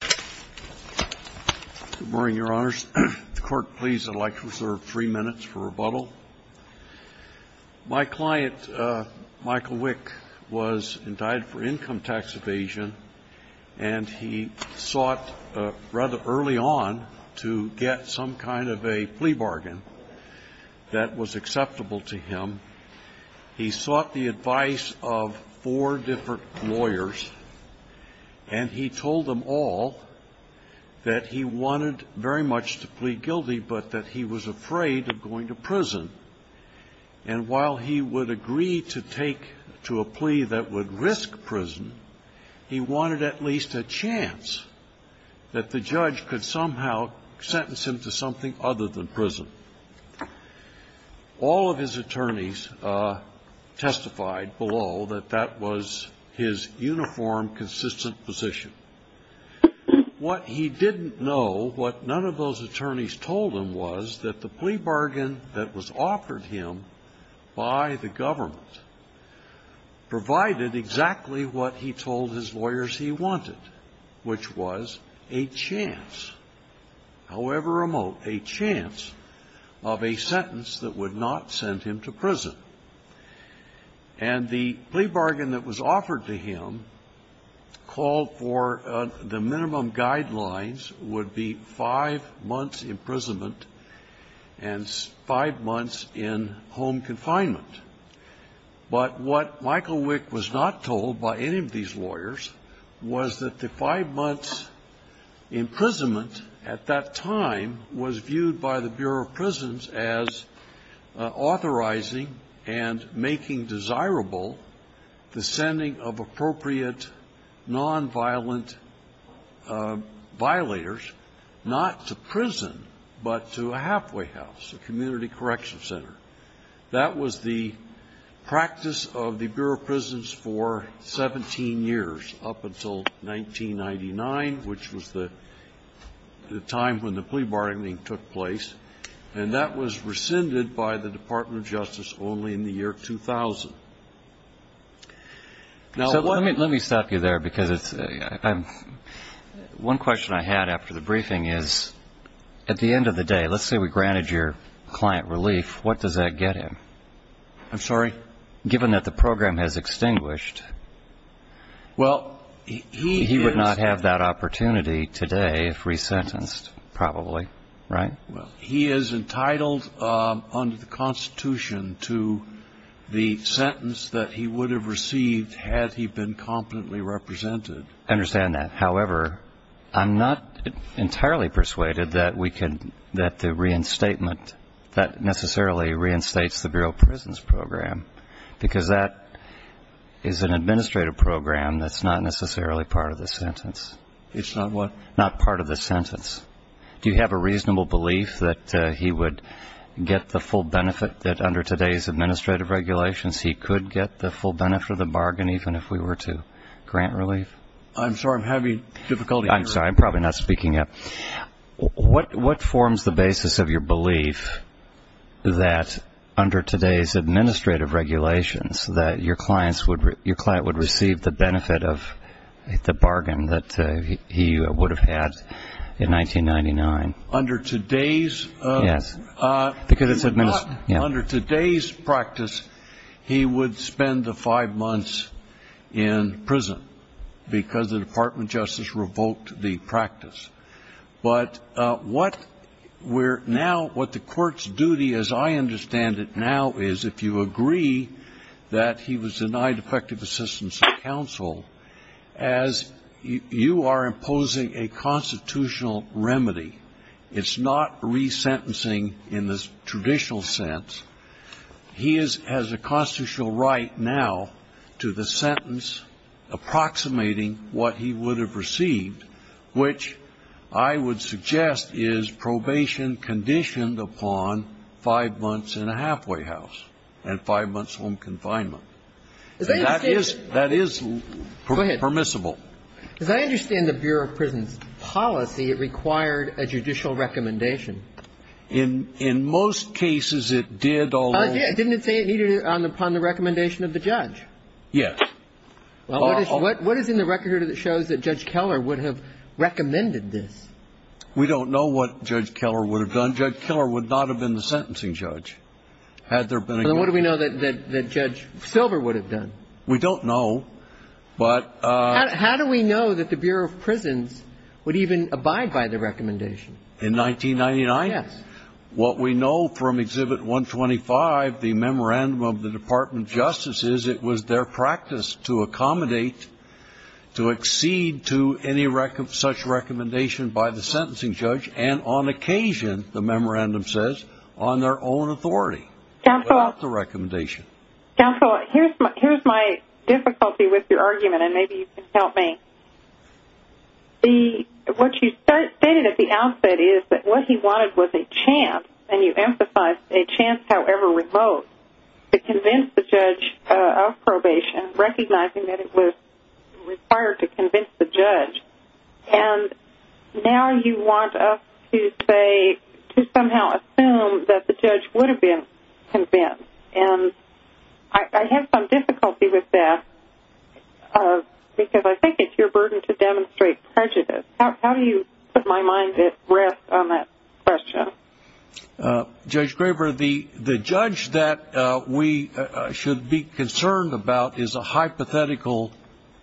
Good morning, Your Honors. If the Court please, I'd like to reserve three minutes for rebuttal. My client, Michael Wick, was indicted for income tax evasion, and he sought rather early on to get some kind of a plea bargain that was acceptable to him. He sought the advice of four different lawyers, and he told them all that he wanted very much to plead guilty, but that he was afraid of going to prison. And while he would agree to take to a plea that would risk prison, he wanted at least a chance that the judge could somehow sentence him to something other than prison. All of his attorneys testified below that that was his uniform, consistent position. What he didn't know, what none of those attorneys told him was that the plea bargain that was offered him by the government provided exactly what he told his lawyers he wanted, which was a chance, however remote, a chance of a sentence that would not send him to prison. And the plea bargain that was offered to him called for the minimum guidelines would be five months imprisonment and five months in confinement. But what Michael Wick was not told by any of these lawyers was that the five months imprisonment at that time was viewed by the Bureau of Prisons as authorizing and making desirable the sending of appropriate nonviolent violators not to prison, but to a halfway house, a community correction center. That was the practice of the Bureau of Prisons for 17 years, up until 1999, which was the time when the plea bargaining took place. And that was rescinded by the Department of Justice only in the year 2000. Now, one of the things that I'm going to say is that I'm not going to go into the details of the plea bargain, but I'm going to say that at the end of the day, let's say we granted your client relief, what does that get him? I'm sorry? Given that the program has extinguished, he would not have that opportunity today if resentenced, probably. Right? He is entitled under the Constitution to the sentence that he would have received had he been competently represented. I understand that. However, I'm not entirely persuaded that we can, that the reinstatement, that necessarily reinstates the Bureau of Prisons program, because that is an administrative program that's not necessarily part of the sentence. It's not what? Not part of the sentence. Do you have a reasonable belief that he would get the full benefit that under today's administrative regulations he could get the full benefit of the bargain even if we were to grant relief? I'm sorry. I'm having difficulty hearing. I'm sorry. I'm probably not speaking up. What forms the basis of your belief that under today's administrative regulations that your client would receive the benefit of the bargain that he would have had in 1999? Under today's? Yes. Because it's administrative. Under today's practice, he would spend the five months in prison because the Department of Justice revoked the practice. But what we're now, what the Court's duty, as I understand it now is, if you agree that he was denied effective assistance of counsel, as you are proposing a constitutional remedy, it's not resentencing in the traditional sense, he has a constitutional right now to the sentence approximating what he would have received, which I would suggest is probation conditioned upon five months in a halfway house and five months home confinement. That is permissible. As I understand the Bureau of Prisons policy, it required a judicial recommendation. In most cases, it did, although... It didn't say it needed it upon the recommendation of the judge. Yes. What is in the record that shows that Judge Keller would have recommended this? We don't know what Judge Keller would have done. Judge Keller would not have been the sentencing judge had there been a... Then what do we know that Judge Silver would have done? We don't know, but... How do we know that the Bureau of Prisons would even abide by the recommendation? In 1999? Yes. What we know from Exhibit 125, the memorandum of the Department of Justice, is it was their practice to accommodate, to accede to any such recommendation by the sentencing judge and on occasion, the memorandum says, on their own authority. Counsel... Without the recommendation. Counsel, here's my difficulty with your argument, and maybe you can help me. What you stated at the outset is that what he wanted was a chance, and you emphasized a chance, however remote, to convince the judge of probation, recognizing that it was required to convince the judge, and now you want us to say, to somehow assume that the I have some difficulty with that, because I think it's your burden to demonstrate prejudice. How do you put my mind at rest on that question? Judge Graber, the judge that we should be concerned about is a hypothetical,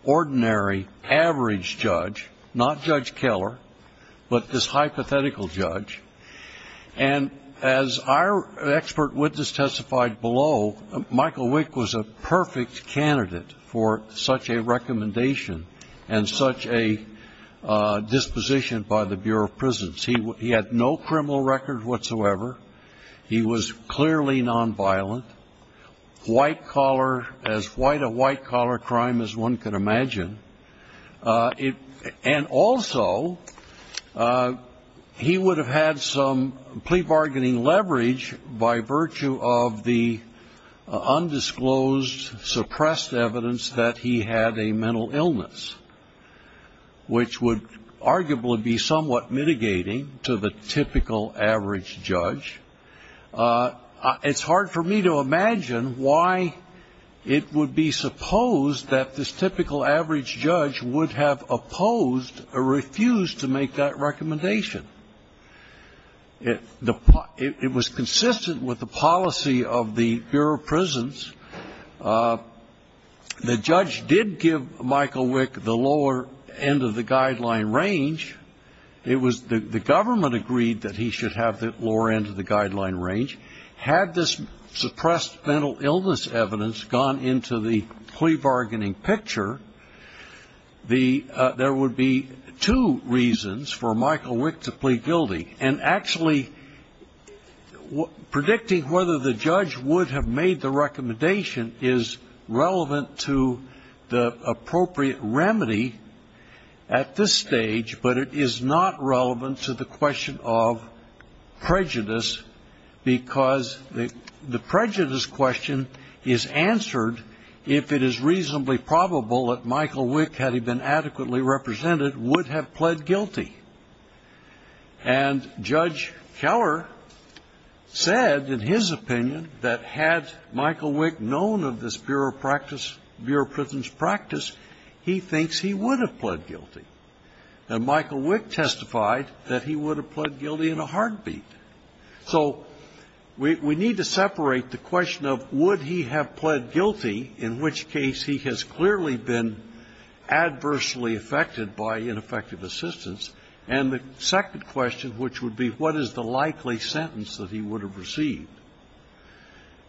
ordinary, average judge, not Judge Keller, but this hypothetical judge, and as our expert witness testified below, Michael Wick was a perfect candidate for such a recommendation and such a disposition by the Bureau of Prisons. He had no criminal record whatsoever. He was clearly nonviolent. White collar, as white a white collar crime as one could imagine. And also, he would have had some plea bargaining leverage by virtue of the undisclosed, suppressed evidence that he had a mental illness, which would arguably be somewhat mitigating to the typical average judge. It's hard for me to imagine why it would be supposed that this typical average judge would have opposed or refused to make that recommendation. It was consistent with the policy of the Bureau of Prisons. The judge did give Michael Wick the lower end of the guideline range. The government agreed that he should have the lower end of the guideline range. Had this suppressed mental illness evidence gone into the plea bargaining picture, there would be two reasons for Michael Wick to plead guilty. And actually, predicting whether the judge would have made the recommendation is relevant to the appropriate remedy at this stage, but it is not relevant to the question of prejudice because the prejudice question is answered if it is reasonably probable that Michael Wick, had he been adequately represented, would have pled guilty. And Judge Keller said, in his opinion, that had Michael Wick known of this Bureau of Prisons practice, he thinks he would have pled guilty. And Michael Wick testified that he would have pled guilty in a heartbeat. So we need to separate the question of would he have pled guilty, in which case he has clearly been adversely affected by ineffective assistance, and the second question, which would be what is the likely sentence that he would have received.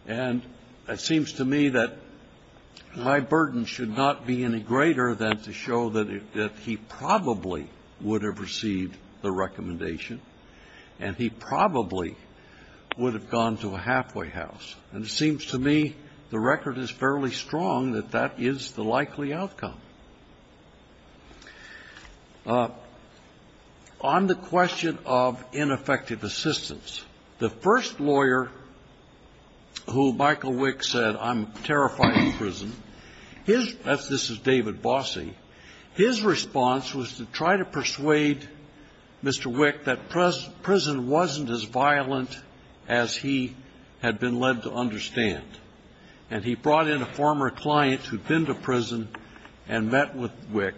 And it seems to me that my burden should not be any greater than to show that he probably would have received the recommendation and he probably would have gone to a halfway house, and it seems to me the record is fairly strong that that is the likely outcome. On the question of ineffective assistance, the first lawyer who Michael Wick said, I'm terrified of prison, his – this is David Bossie – his response was to try to persuade Mr. Wick that prison wasn't as violent as he had been told it was going to be, and that he had been led to understand. And he brought in a former client who had been to prison and met with Wick.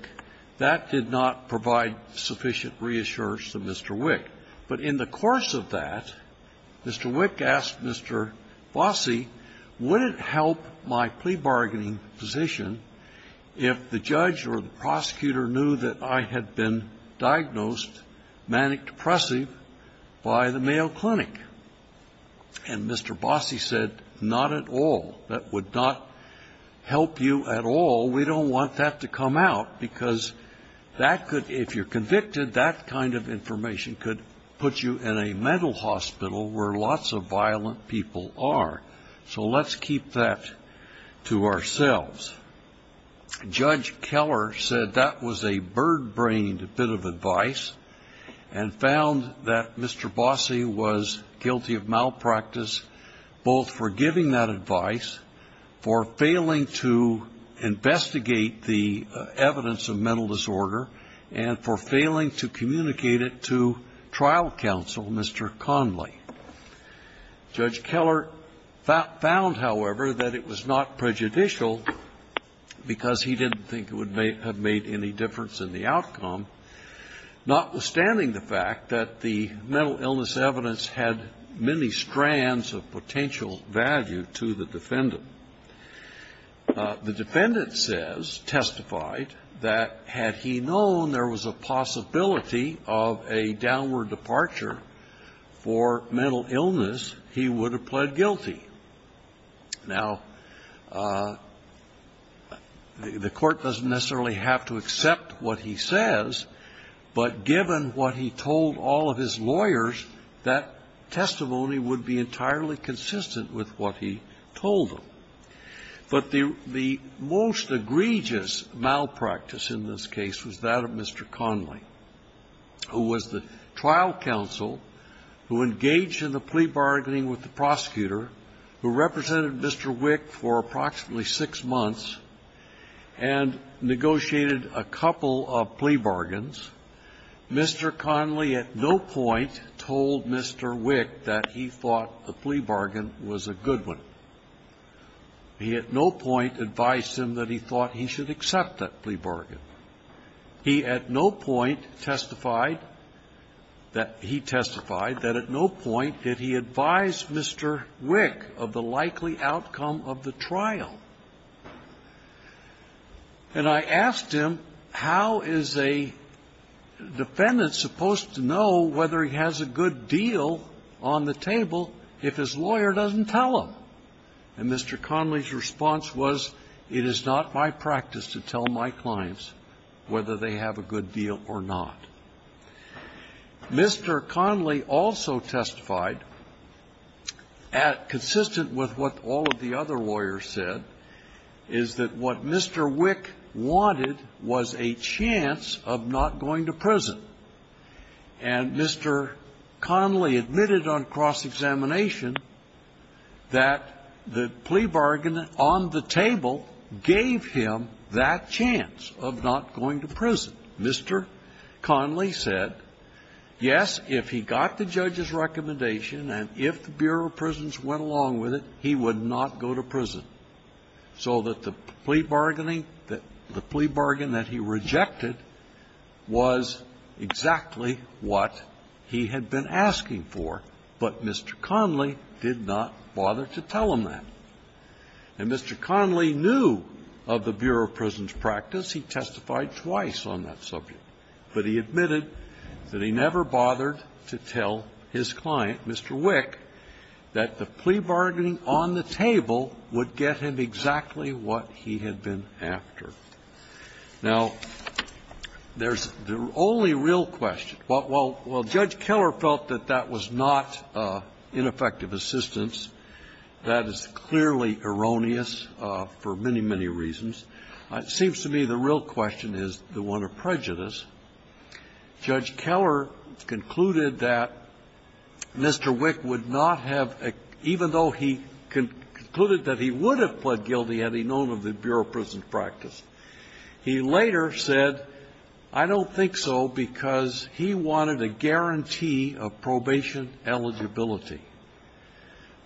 That did not provide sufficient reassurance to Mr. Wick. But in the course of that, Mr. Wick asked Mr. Bossie, would it help my plea bargaining physician if the judge or the prosecutor knew that I had been diagnosed manic-depressive by the Mayo Clinic? And Mr. Bossie said, not at all. That would not help you at all. We don't want that to come out because that could, if you're convicted, that kind of information could put you in a mental hospital where lots of violent people are. So let's keep that to ourselves. Judge Keller said that was a birdbrained bit of advice and found that Mr. Bossie was guilty of malpractice, both for giving that advice, for failing to investigate the evidence of mental disorder, and for failing to communicate it to trial counsel, Mr. Conley. Judge Keller found, however, that it was not prejudicial because he didn't think it would have made any difference in the outcome, notwithstanding the fact that the mental illness evidence had many strands of potential value to the defendant. The defendant says, testified, that had he known there was a possibility of a downward departure for mental illness, he would have pled guilty. Now, the court doesn't necessarily have to accept what he says, but given what he told all of his lawyers, that testimony would be entirely consistent with what he told them. But the most egregious malpractice in this case was that of Mr. Conley, who was the trial counsel, who engaged in the plea bargaining with the prosecutor, who represented Mr. Wick for approximately six months and negotiated a couple of plea bargains. Mr. Conley at no point told Mr. Wick that he thought the plea bargain was a good one. He at no point advised him that he thought he should accept that plea bargain. He at no point testified that he testified that at no point did he advise Mr. Wick of the likely outcome of the trial. And I asked him, how is a defendant supposed to know whether he has a good deal on the table if his lawyer doesn't tell him? And Mr. Conley's response was, it is not my practice to tell my clients whether they have a good deal or not. Mr. Conley also testified, consistent with what all of the other lawyers said, is that what Mr. Wick wanted was a chance of not going to prison. And Mr. Conley admitted on cross-examination that the plea bargain on the table gave him that chance of not going to prison. Mr. Conley said, yes, if he got the judge's recommendation and if the Bureau of Prisons went along with it, he would not go to prison. So that the plea bargaining that he rejected was exactly what he had been asking for, but Mr. Conley did not bother to tell him that. And Mr. Conley knew of the Bureau of Prisons' practice. He testified twice on that subject. But he admitted that he never bothered to tell his client, Mr. Wick, that the plea bargain gave him exactly what he had been after. Now, there's the only real question. While Judge Keller felt that that was not ineffective assistance, that is clearly erroneous for many, many reasons, it seems to me the real question is the one of prejudice. Judge Keller concluded that Mr. Wick would not have, even though he concluded that he would have pled guilty had he known of the Bureau of Prisons' practice. He later said, I don't think so because he wanted a guarantee of probation eligibility.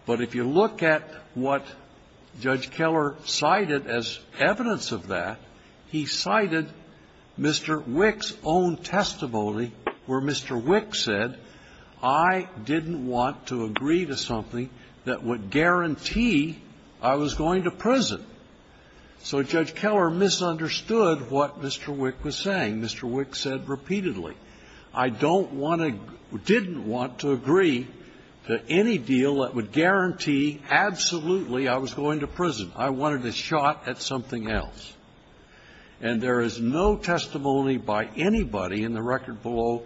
But if you look at what Judge Keller cited as evidence of that, he cited Mr. Wick's own testimony where Mr. Wick said, I didn't want to agree to something that would guarantee I was going to prison. So Judge Keller misunderstood what Mr. Wick was saying. Mr. Wick said repeatedly, I don't want to or didn't want to agree to any deal that would guarantee absolutely I was going to prison. I wanted a shot at something else. And there is no testimony by anybody in the record below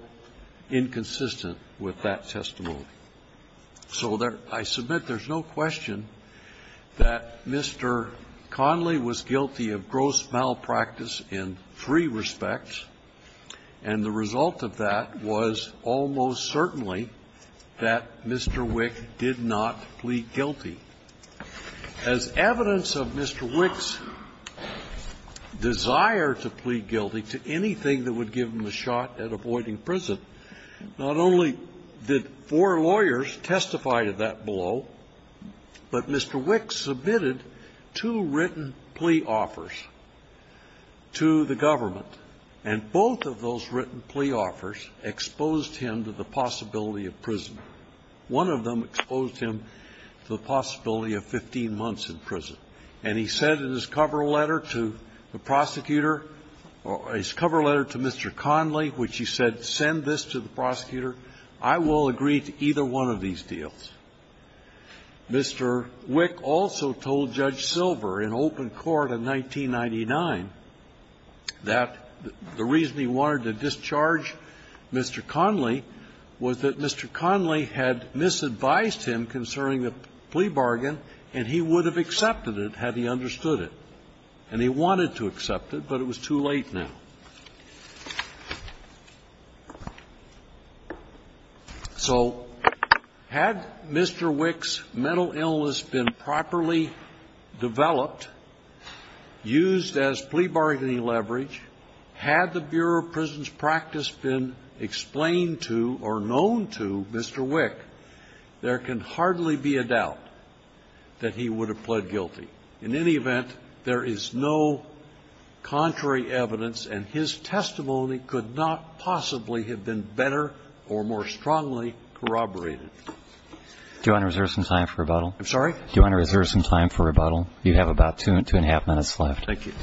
inconsistent with that testimony. So I submit there's no question that Mr. Connolly was guilty of gross malpractice in three respects, and the result of that was almost certainly that Mr. Wick did not plead guilty. As evidence of Mr. Wick's desire to plead guilty to anything that would give him the possibility of prison. There are lawyers testifying to that below. But Mr. Wick submitted two written plea offers to the government, and both of those written plea offers exposed him to the possibility of prison. One of them exposed him to the possibility of 15 months in prison. And he said in his cover letter to the prosecutor, his cover letter to Mr. Connolly which he said, send this to the prosecutor. I will agree to either one of these deals. Mr. Wick also told Judge Silver in open court in 1999 that the reason he wanted to discharge Mr. Connolly was that Mr. Connolly had misadvised him concerning the plea bargain and he would have accepted it had he understood it. And he wanted to accept it, but it was too late now. So had Mr. Wick's mental illness been properly developed, used as plea bargaining leverage, had the Bureau of Prison's practice been explained to or known to Mr. Wick, there can hardly be a doubt that he would have pled guilty. In any event, there is no contrary evidence, and his testimony could not possibly have been better or more strongly corroborated. Do you want to reserve some time for rebuttal? I'm sorry? Do you want to reserve some time for rebuttal? You have about two and a half minutes left. Thank you.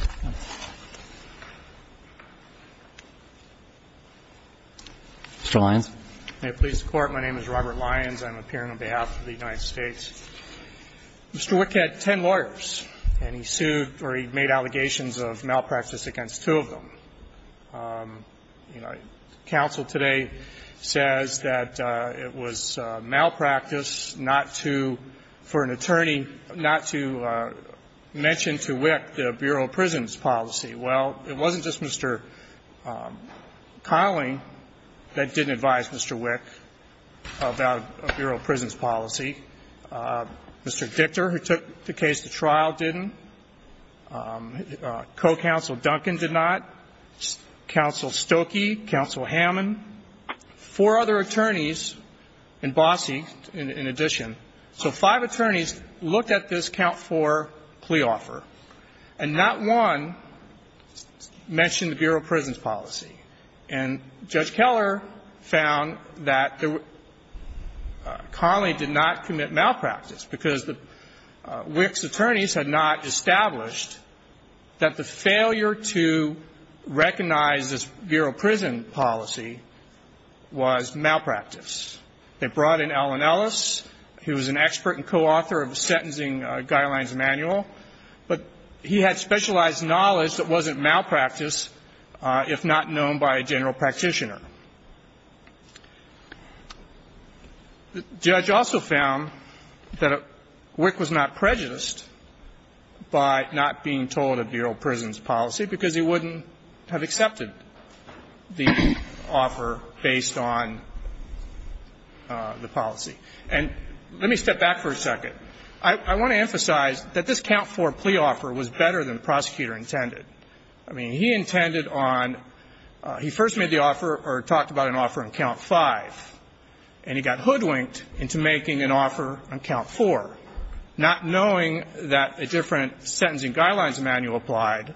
Mr. Lyons. May it please the Court. My name is Robert Lyons. I'm appearing on behalf of the United States. Mr. Wick had ten lawyers and he sued or he made allegations of malpractice against two of them. You know, counsel today says that it was malpractice not to, for an attorney, not to mention to Wick the Bureau of Prison's policy. Well, it wasn't just Mr. Connolly that didn't advise Mr. Wick about a Bureau of Prison's policy. Mr. Dichter, who took the case to trial, didn't. Co-counsel Duncan did not. Counsel Stokey, Counsel Hammond, four other attorneys, and Bossie in addition. So five attorneys looked at this count for plea offer, and not one mentioned the Bureau of Prison's policy. And Judge Keller found that Connolly did not commit malpractice because Wick's attorneys had not established that the failure to recognize this Bureau of Prison policy was malpractice. They brought in Allen Ellis, who was an expert and co-author of the sentencing guidelines manual, but he had specialized knowledge that wasn't malpractice, if not known by a general practitioner. The judge also found that Wick was not prejudiced by not being told a Bureau of Prison's policy because he wouldn't have accepted the offer based on the policy. And let me step back for a second. I want to emphasize that this count for plea offer was better than the prosecutor intended. I mean, he intended on he first made the offer or talked about an offer on count five. And he got hoodwinked into making an offer on count four, not knowing that a different sentencing guidelines manual applied,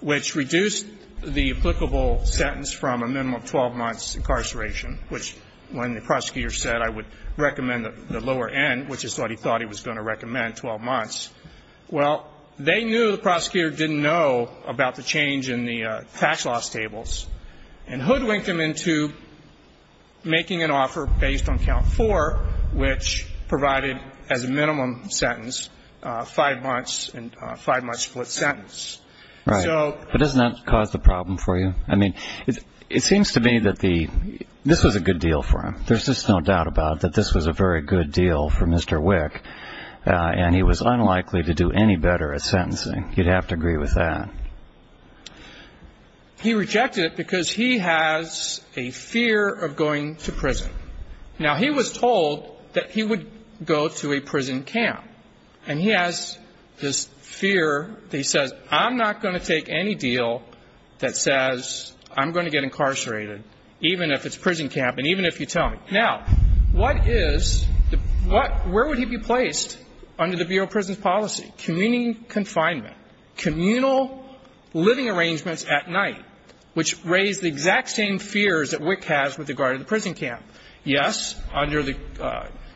which reduced the applicable sentence from a minimum of 12 months incarceration, which when the prosecutor said I would recommend the lower end, which is what he thought he was going to recommend, 12 months. Well, they knew the prosecutor didn't know about the change in the tax loss tables, and hoodwinked him into making an offer based on count four, which provided as a minimum sentence five months and five months split sentence. So... Right. But doesn't that cause the problem for you? I mean, it seems to me that this was a good deal for him. There's just no doubt about it, that this was a very good deal for Mr. Wick, and he was unlikely to do any better at sentencing. You'd have to agree with that. He rejected it because he has a fear of going to prison. Now, he was told that he would go to a prison camp. And he has this fear that he says, I'm not going to take any deal that says I'm going to get incarcerated, even if it's prison camp and even if you tell me. Now, what is, what, where would he be placed under the Bureau of Prison Policy? Community confinement. Communal living arrangements at night, which raise the exact same fears that Wick has with regard to the prison camp. Yes, under the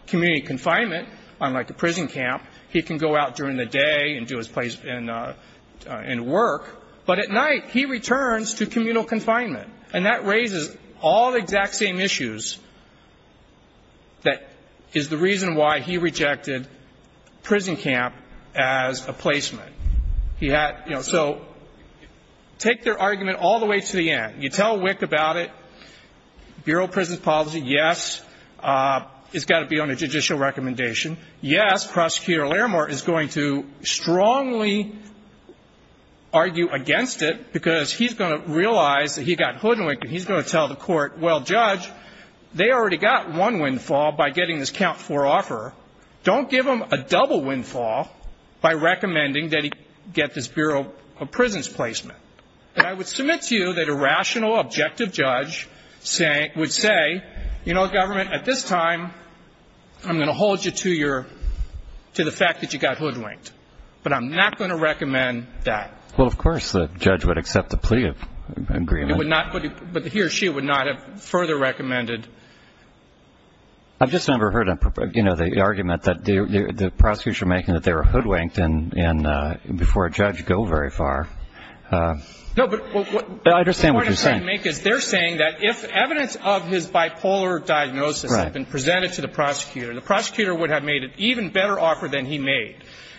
community confinement, unlike a prison camp, he can go out during the day and do his place and work. But at night, he returns to communal confinement. And that raises all the exact same issues that is the reason why he rejected prison camp as a placement. He had, you know, so take their argument all the way to the end. You tell Wick about it, Bureau of Prison Policy, yes, it's got to be on a judicial recommendation. Yes, Prosecutor Laramore is going to strongly argue against it because he's going to realize that he got hoodwinked and he's going to tell the court, well, Judge, they already got one windfall by getting this Camp 4 offer. Don't give them a double windfall by recommending that he get this Bureau of Prisons placement. And I would submit to you that a rational, objective judge would say, you know, Government, at this time, I'm going to hold you to your, to the fact that you got hoodwinked. But I'm not going to recommend that. Well, of course, the judge would accept the plea agreement. But he or she would not have further recommended. I've just never heard, you know, the argument that the prosecutors are making that they were hoodwinked before a judge go very far. No, but what I understand what you're saying. The point I'm trying to make is they're saying that if evidence of his bipolar diagnosis had been presented to the prosecutor, the prosecutor would have made an even better offer than he made.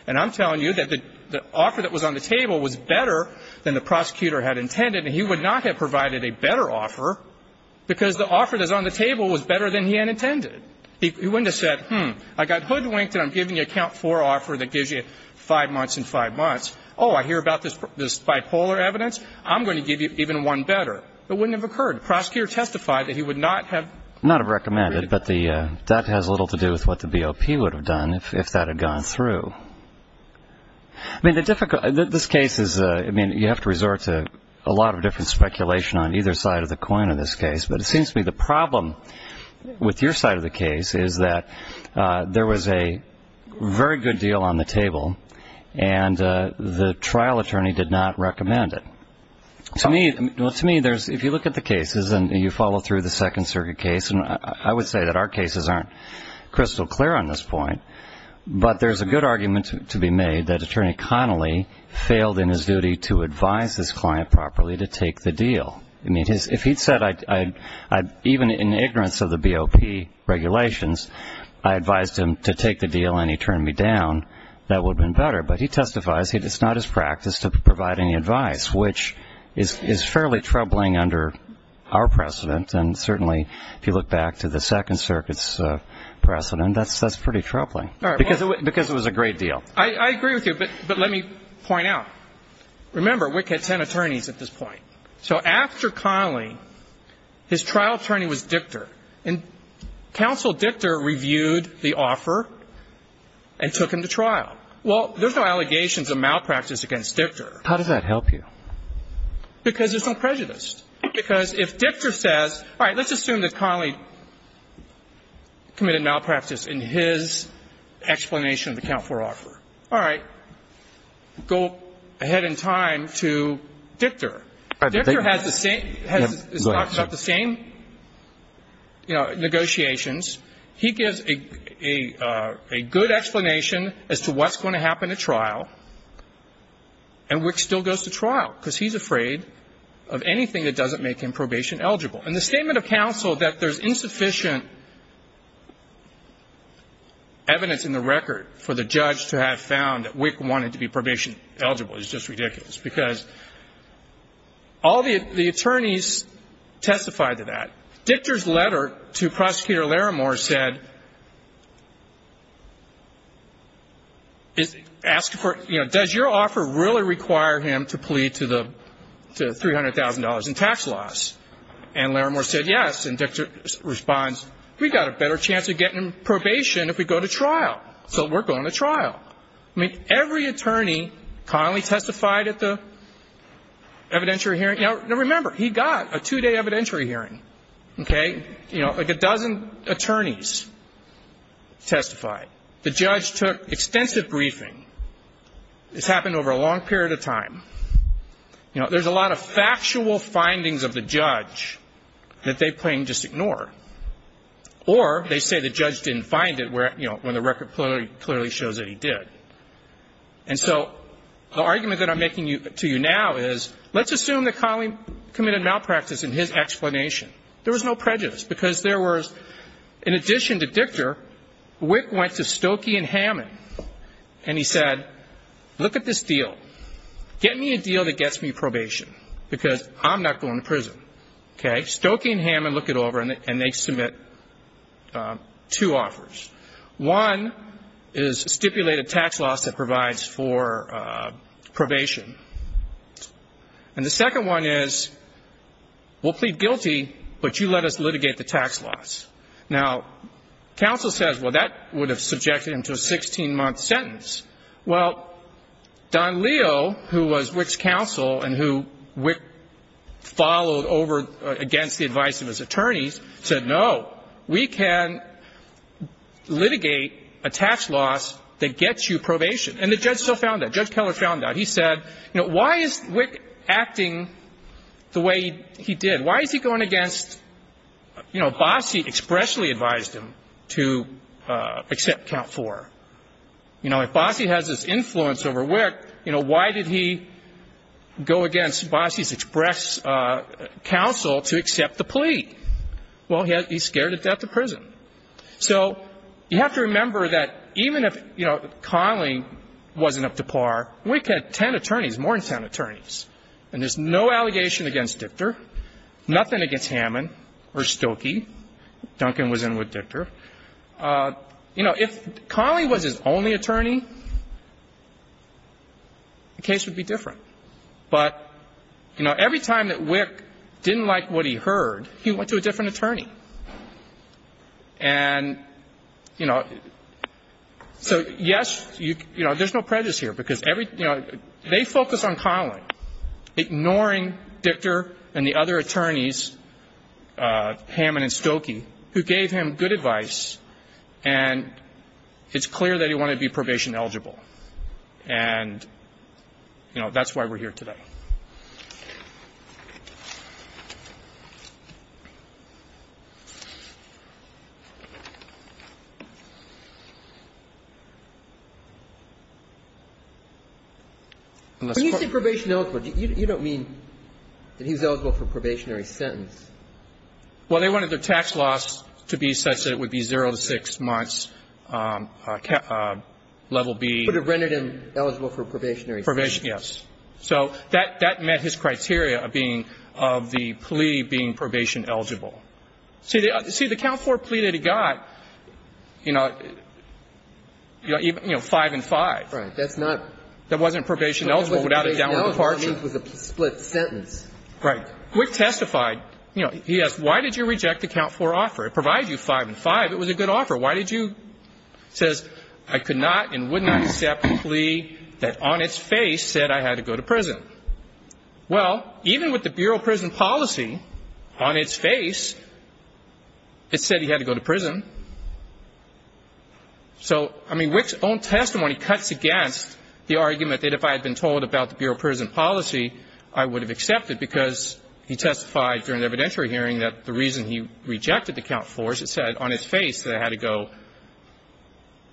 And I'm telling you that the offer that was on the table was better than the prosecutor had intended. And he would not have provided a better offer because the offer that was on the table was better than he had intended. He wouldn't have said, hmm, I got hoodwinked and I'm giving you a Camp 4 offer that gives you five months and five months. Oh, I hear about this bipolar evidence. I'm going to give you even one better. It wouldn't have occurred. The prosecutor testified that he would not have recommended. But that has little to do with what the BOP would have done if that had gone through. I mean, this case is, I mean, you have to resort to a lot of different speculation on either side of the coin in this case. But it seems to me the problem with your side of the case is that there was a very good deal on the table and the trial attorney did not recommend it. To me, if you look at the cases and you follow through the Second Circuit case, I would say that our cases aren't crystal clear on this point. But there's a good argument to be made that Attorney Connolly failed in his duty to advise his client properly to take the deal. I mean, if he'd said, even in ignorance of the BOP regulations, I advised him to take the deal and he turned me down, that would have been better. But he testifies it's not his practice to provide any advice, which is fairly troubling under our precedent. And certainly, if you look back to the Second Circuit's precedent, that's pretty troubling because it was a great deal. I agree with you. But let me point out, remember, Wick had ten attorneys at this point. So after Connolly, his trial attorney was Dictor. And Counsel Dictor reviewed the offer and took him to trial. Well, there's no allegations of malpractice against Dictor. How did that help you? Because there's no prejudice. Because if Dictor says, all right, let's assume that Connolly committed malpractice in his explanation of the account for offer. All right. Go ahead in time to Dictor. Dictor has the same, has the same, you know, negotiations. He gives a good explanation as to what's going to happen at trial. And Wick still goes to trial. Because he's afraid of anything that doesn't make him probation eligible. And the statement of counsel that there's insufficient evidence in the record for the judge to have found that Wick wanted to be probation eligible is just ridiculous. Because all the attorneys testified to that. Dictor's letter to Prosecutor Larimore said, asked for, you know, does your offer really require him to plead to the $300,000 in tax loss? And Larimore said, yes. And Dictor responds, we've got a better chance of getting probation if we go to trial. So we're going to trial. I mean, every attorney Connolly testified at the evidentiary hearing. Now, remember, he got a two-day evidentiary hearing. Okay. You know, like a dozen attorneys testified. The judge took extensive briefing. This happened over a long period of time. You know, there's a lot of factual findings of the judge that they plain just ignore. Or they say the judge didn't find it where, you know, when the record clearly shows that he did. And so the argument that I'm making to you now is, let's assume that Connolly committed malpractice in his explanation. There was no prejudice. Because there was, in addition to Dictor, Wick went to Stokey and Hammond. And he said, look at this deal. Get me a deal that gets me probation. Because I'm not going to prison. Okay. Stokey and Hammond look it over and they submit two offers. One is stipulate a tax loss that provides for probation. And the second one is, we'll plead guilty, but you let us litigate the tax loss. Now, counsel says, well, that would have subjected him to a 16-month sentence. Well, Don Leo, who was Wick's counsel and who Wick followed over against the advice of his attorneys, said, no, we can litigate a tax loss that gets you probation. And the judge still found that. Judge Keller found that. He said, you know, why is Wick acting the way he did? Why is he going against, you know, Bossie expressly advised him to accept count four. You know, if Bossie has this influence over Wick, you know, why did he go against Bossie's express counsel to accept the plea? Well, he's scared to death of prison. So you have to remember that even if, you know, Conley wasn't up to par, Wick had ten attorneys, more than ten attorneys. And there's no allegation against Dichter, nothing against Hammond or Stilkey. Duncan was in with Dichter. You know, if Conley was his only attorney, the case would be different. But, you know, every time that Wick didn't like what he heard, he went to a different attorney. And, you know, so, yes, you know, there's no prejudice here because every, you know, ignoring Dichter and the other attorneys, Hammond and Stilkey, who gave him good advice, and it's clear that he wanted to be probation eligible. And, you know, that's why we're here today. When you say probation eligible, you don't mean that he was eligible for a probationary sentence. Well, they wanted the tax loss to be such that it would be zero to six months level B. But it rendered him eligible for a probationary sentence. And they wanted him to be eligible for a probationary sentence. And that met his criteria of being, of the plea being probation eligible. See, the count four plea that he got, you know, five and five. Right. That's not. That wasn't probation eligible without a downward departure. It was a split sentence. Right. Wick testified. You know, he asked, why did you reject the count four offer? It provided you five and five. It was a good offer. Why did you, says, I could not and would not accept a plea that on its face said I had to go to prison. Well, even with the Bureau of Prison Policy on its face, it said he had to go to prison. So, I mean, Wick's own testimony cuts against the argument that if I had been told about the Bureau of Prison Policy, I would have accepted because he testified during the evidentiary hearing that the reason he rejected the count four is it said on its face that I had to go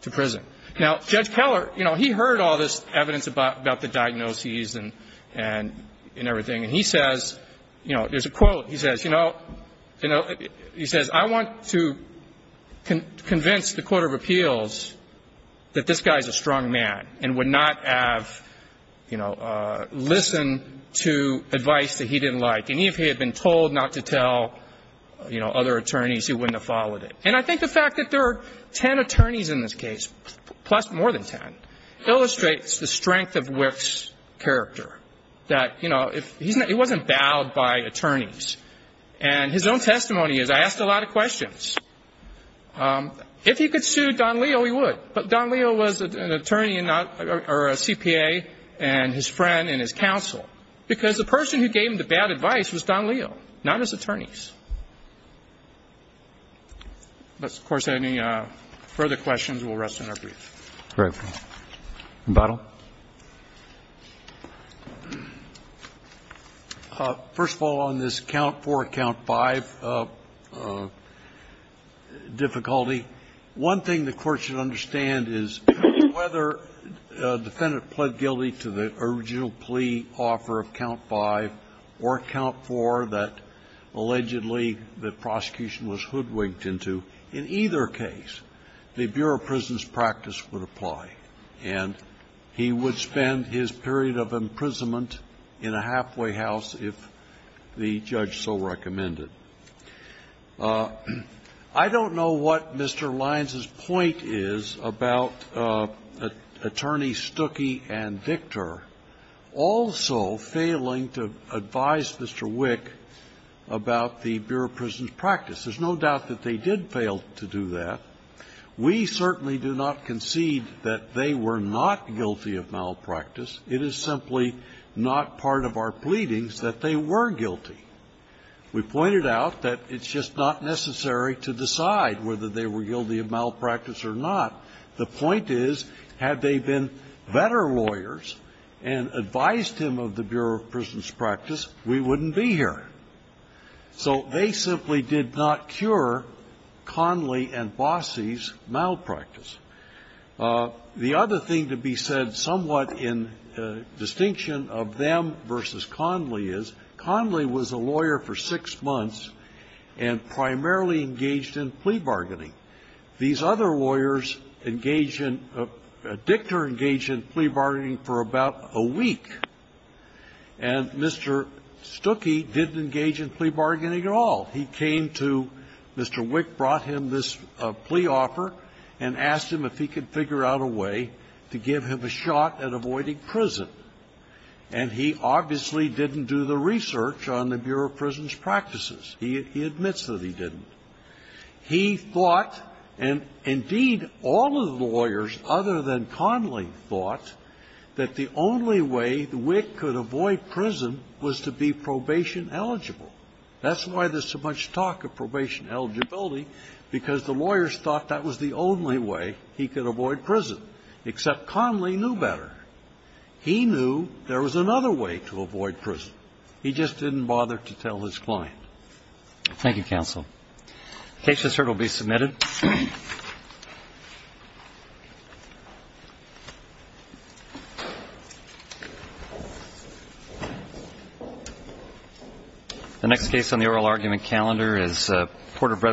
to prison. Now, Judge Keller, you know, he heard all this evidence about the diagnoses and everything. And he says, you know, there's a quote. He says, you know, I want to convince the Court of Appeals that this guy is a strong man and would not have, you know, listened to advice that he didn't like. And if he had been told not to tell, you know, other attorneys, he wouldn't have followed it. And I think the fact that there are ten attorneys in this case, plus more than ten, illustrates the strength of Wick's character. That, you know, he wasn't bowed by attorneys. And his own testimony is, I asked a lot of questions. If he could sue Don Leo, he would. But Don Leo was an attorney or a CPA and his friend and his counsel because the person who gave him the bad advice was Don Leo, not his attorneys. But, of course, any further questions, we'll rest in our briefs. Right. McBottle. First of all, on this count four, count five difficulty, one thing the Court should understand is whether a defendant pled guilty to the original plea offer of count five or count four that allegedly the prosecution was hoodwinked into. In either case, the Bureau of Prisons' practice would apply, and he would spend his period of imprisonment in a halfway house if the judge so recommended. I don't know what Mr. Lyons' point is about Attorney Stuckey and Victor also failing to advise Mr. Wick about the Bureau of Prisons' practice. There's no doubt that they did fail to do that. We certainly do not concede that they were not guilty of malpractice. It is simply not part of our pleadings that they were guilty. We pointed out that it's just not necessary to decide whether they were guilty of malpractice or not. The point is, had they been better lawyers and advised him of the Bureau of Prisons' practice, we wouldn't be here. So they simply did not cure Conley and Bossie's malpractice. The other thing to be said somewhat in distinction of them versus Conley is, Conley was a lawyer for six months and primarily engaged in plea bargaining. These other lawyers engaged in – Dictor engaged in plea bargaining for about a week, and Mr. Stuckey didn't engage in plea bargaining at all. He came to – Mr. Wick brought him this plea offer and asked him if he could figure out a way to give him a shot at avoiding prison. And he obviously didn't do the research on the Bureau of Prisons' practices. He admits that he didn't. He thought, and indeed all of the lawyers other than Conley thought, that the only way Wick could avoid prison was to be probation eligible. That's why there's so much talk of probation eligibility, because the lawyers thought that was the only way he could avoid prison, except Conley knew better. He knew there was another way to avoid prison. He just didn't bother to tell his client. Thank you, counsel. The case has heard will be submitted. The next case on the oral argument calendar is Porter-Breadwin.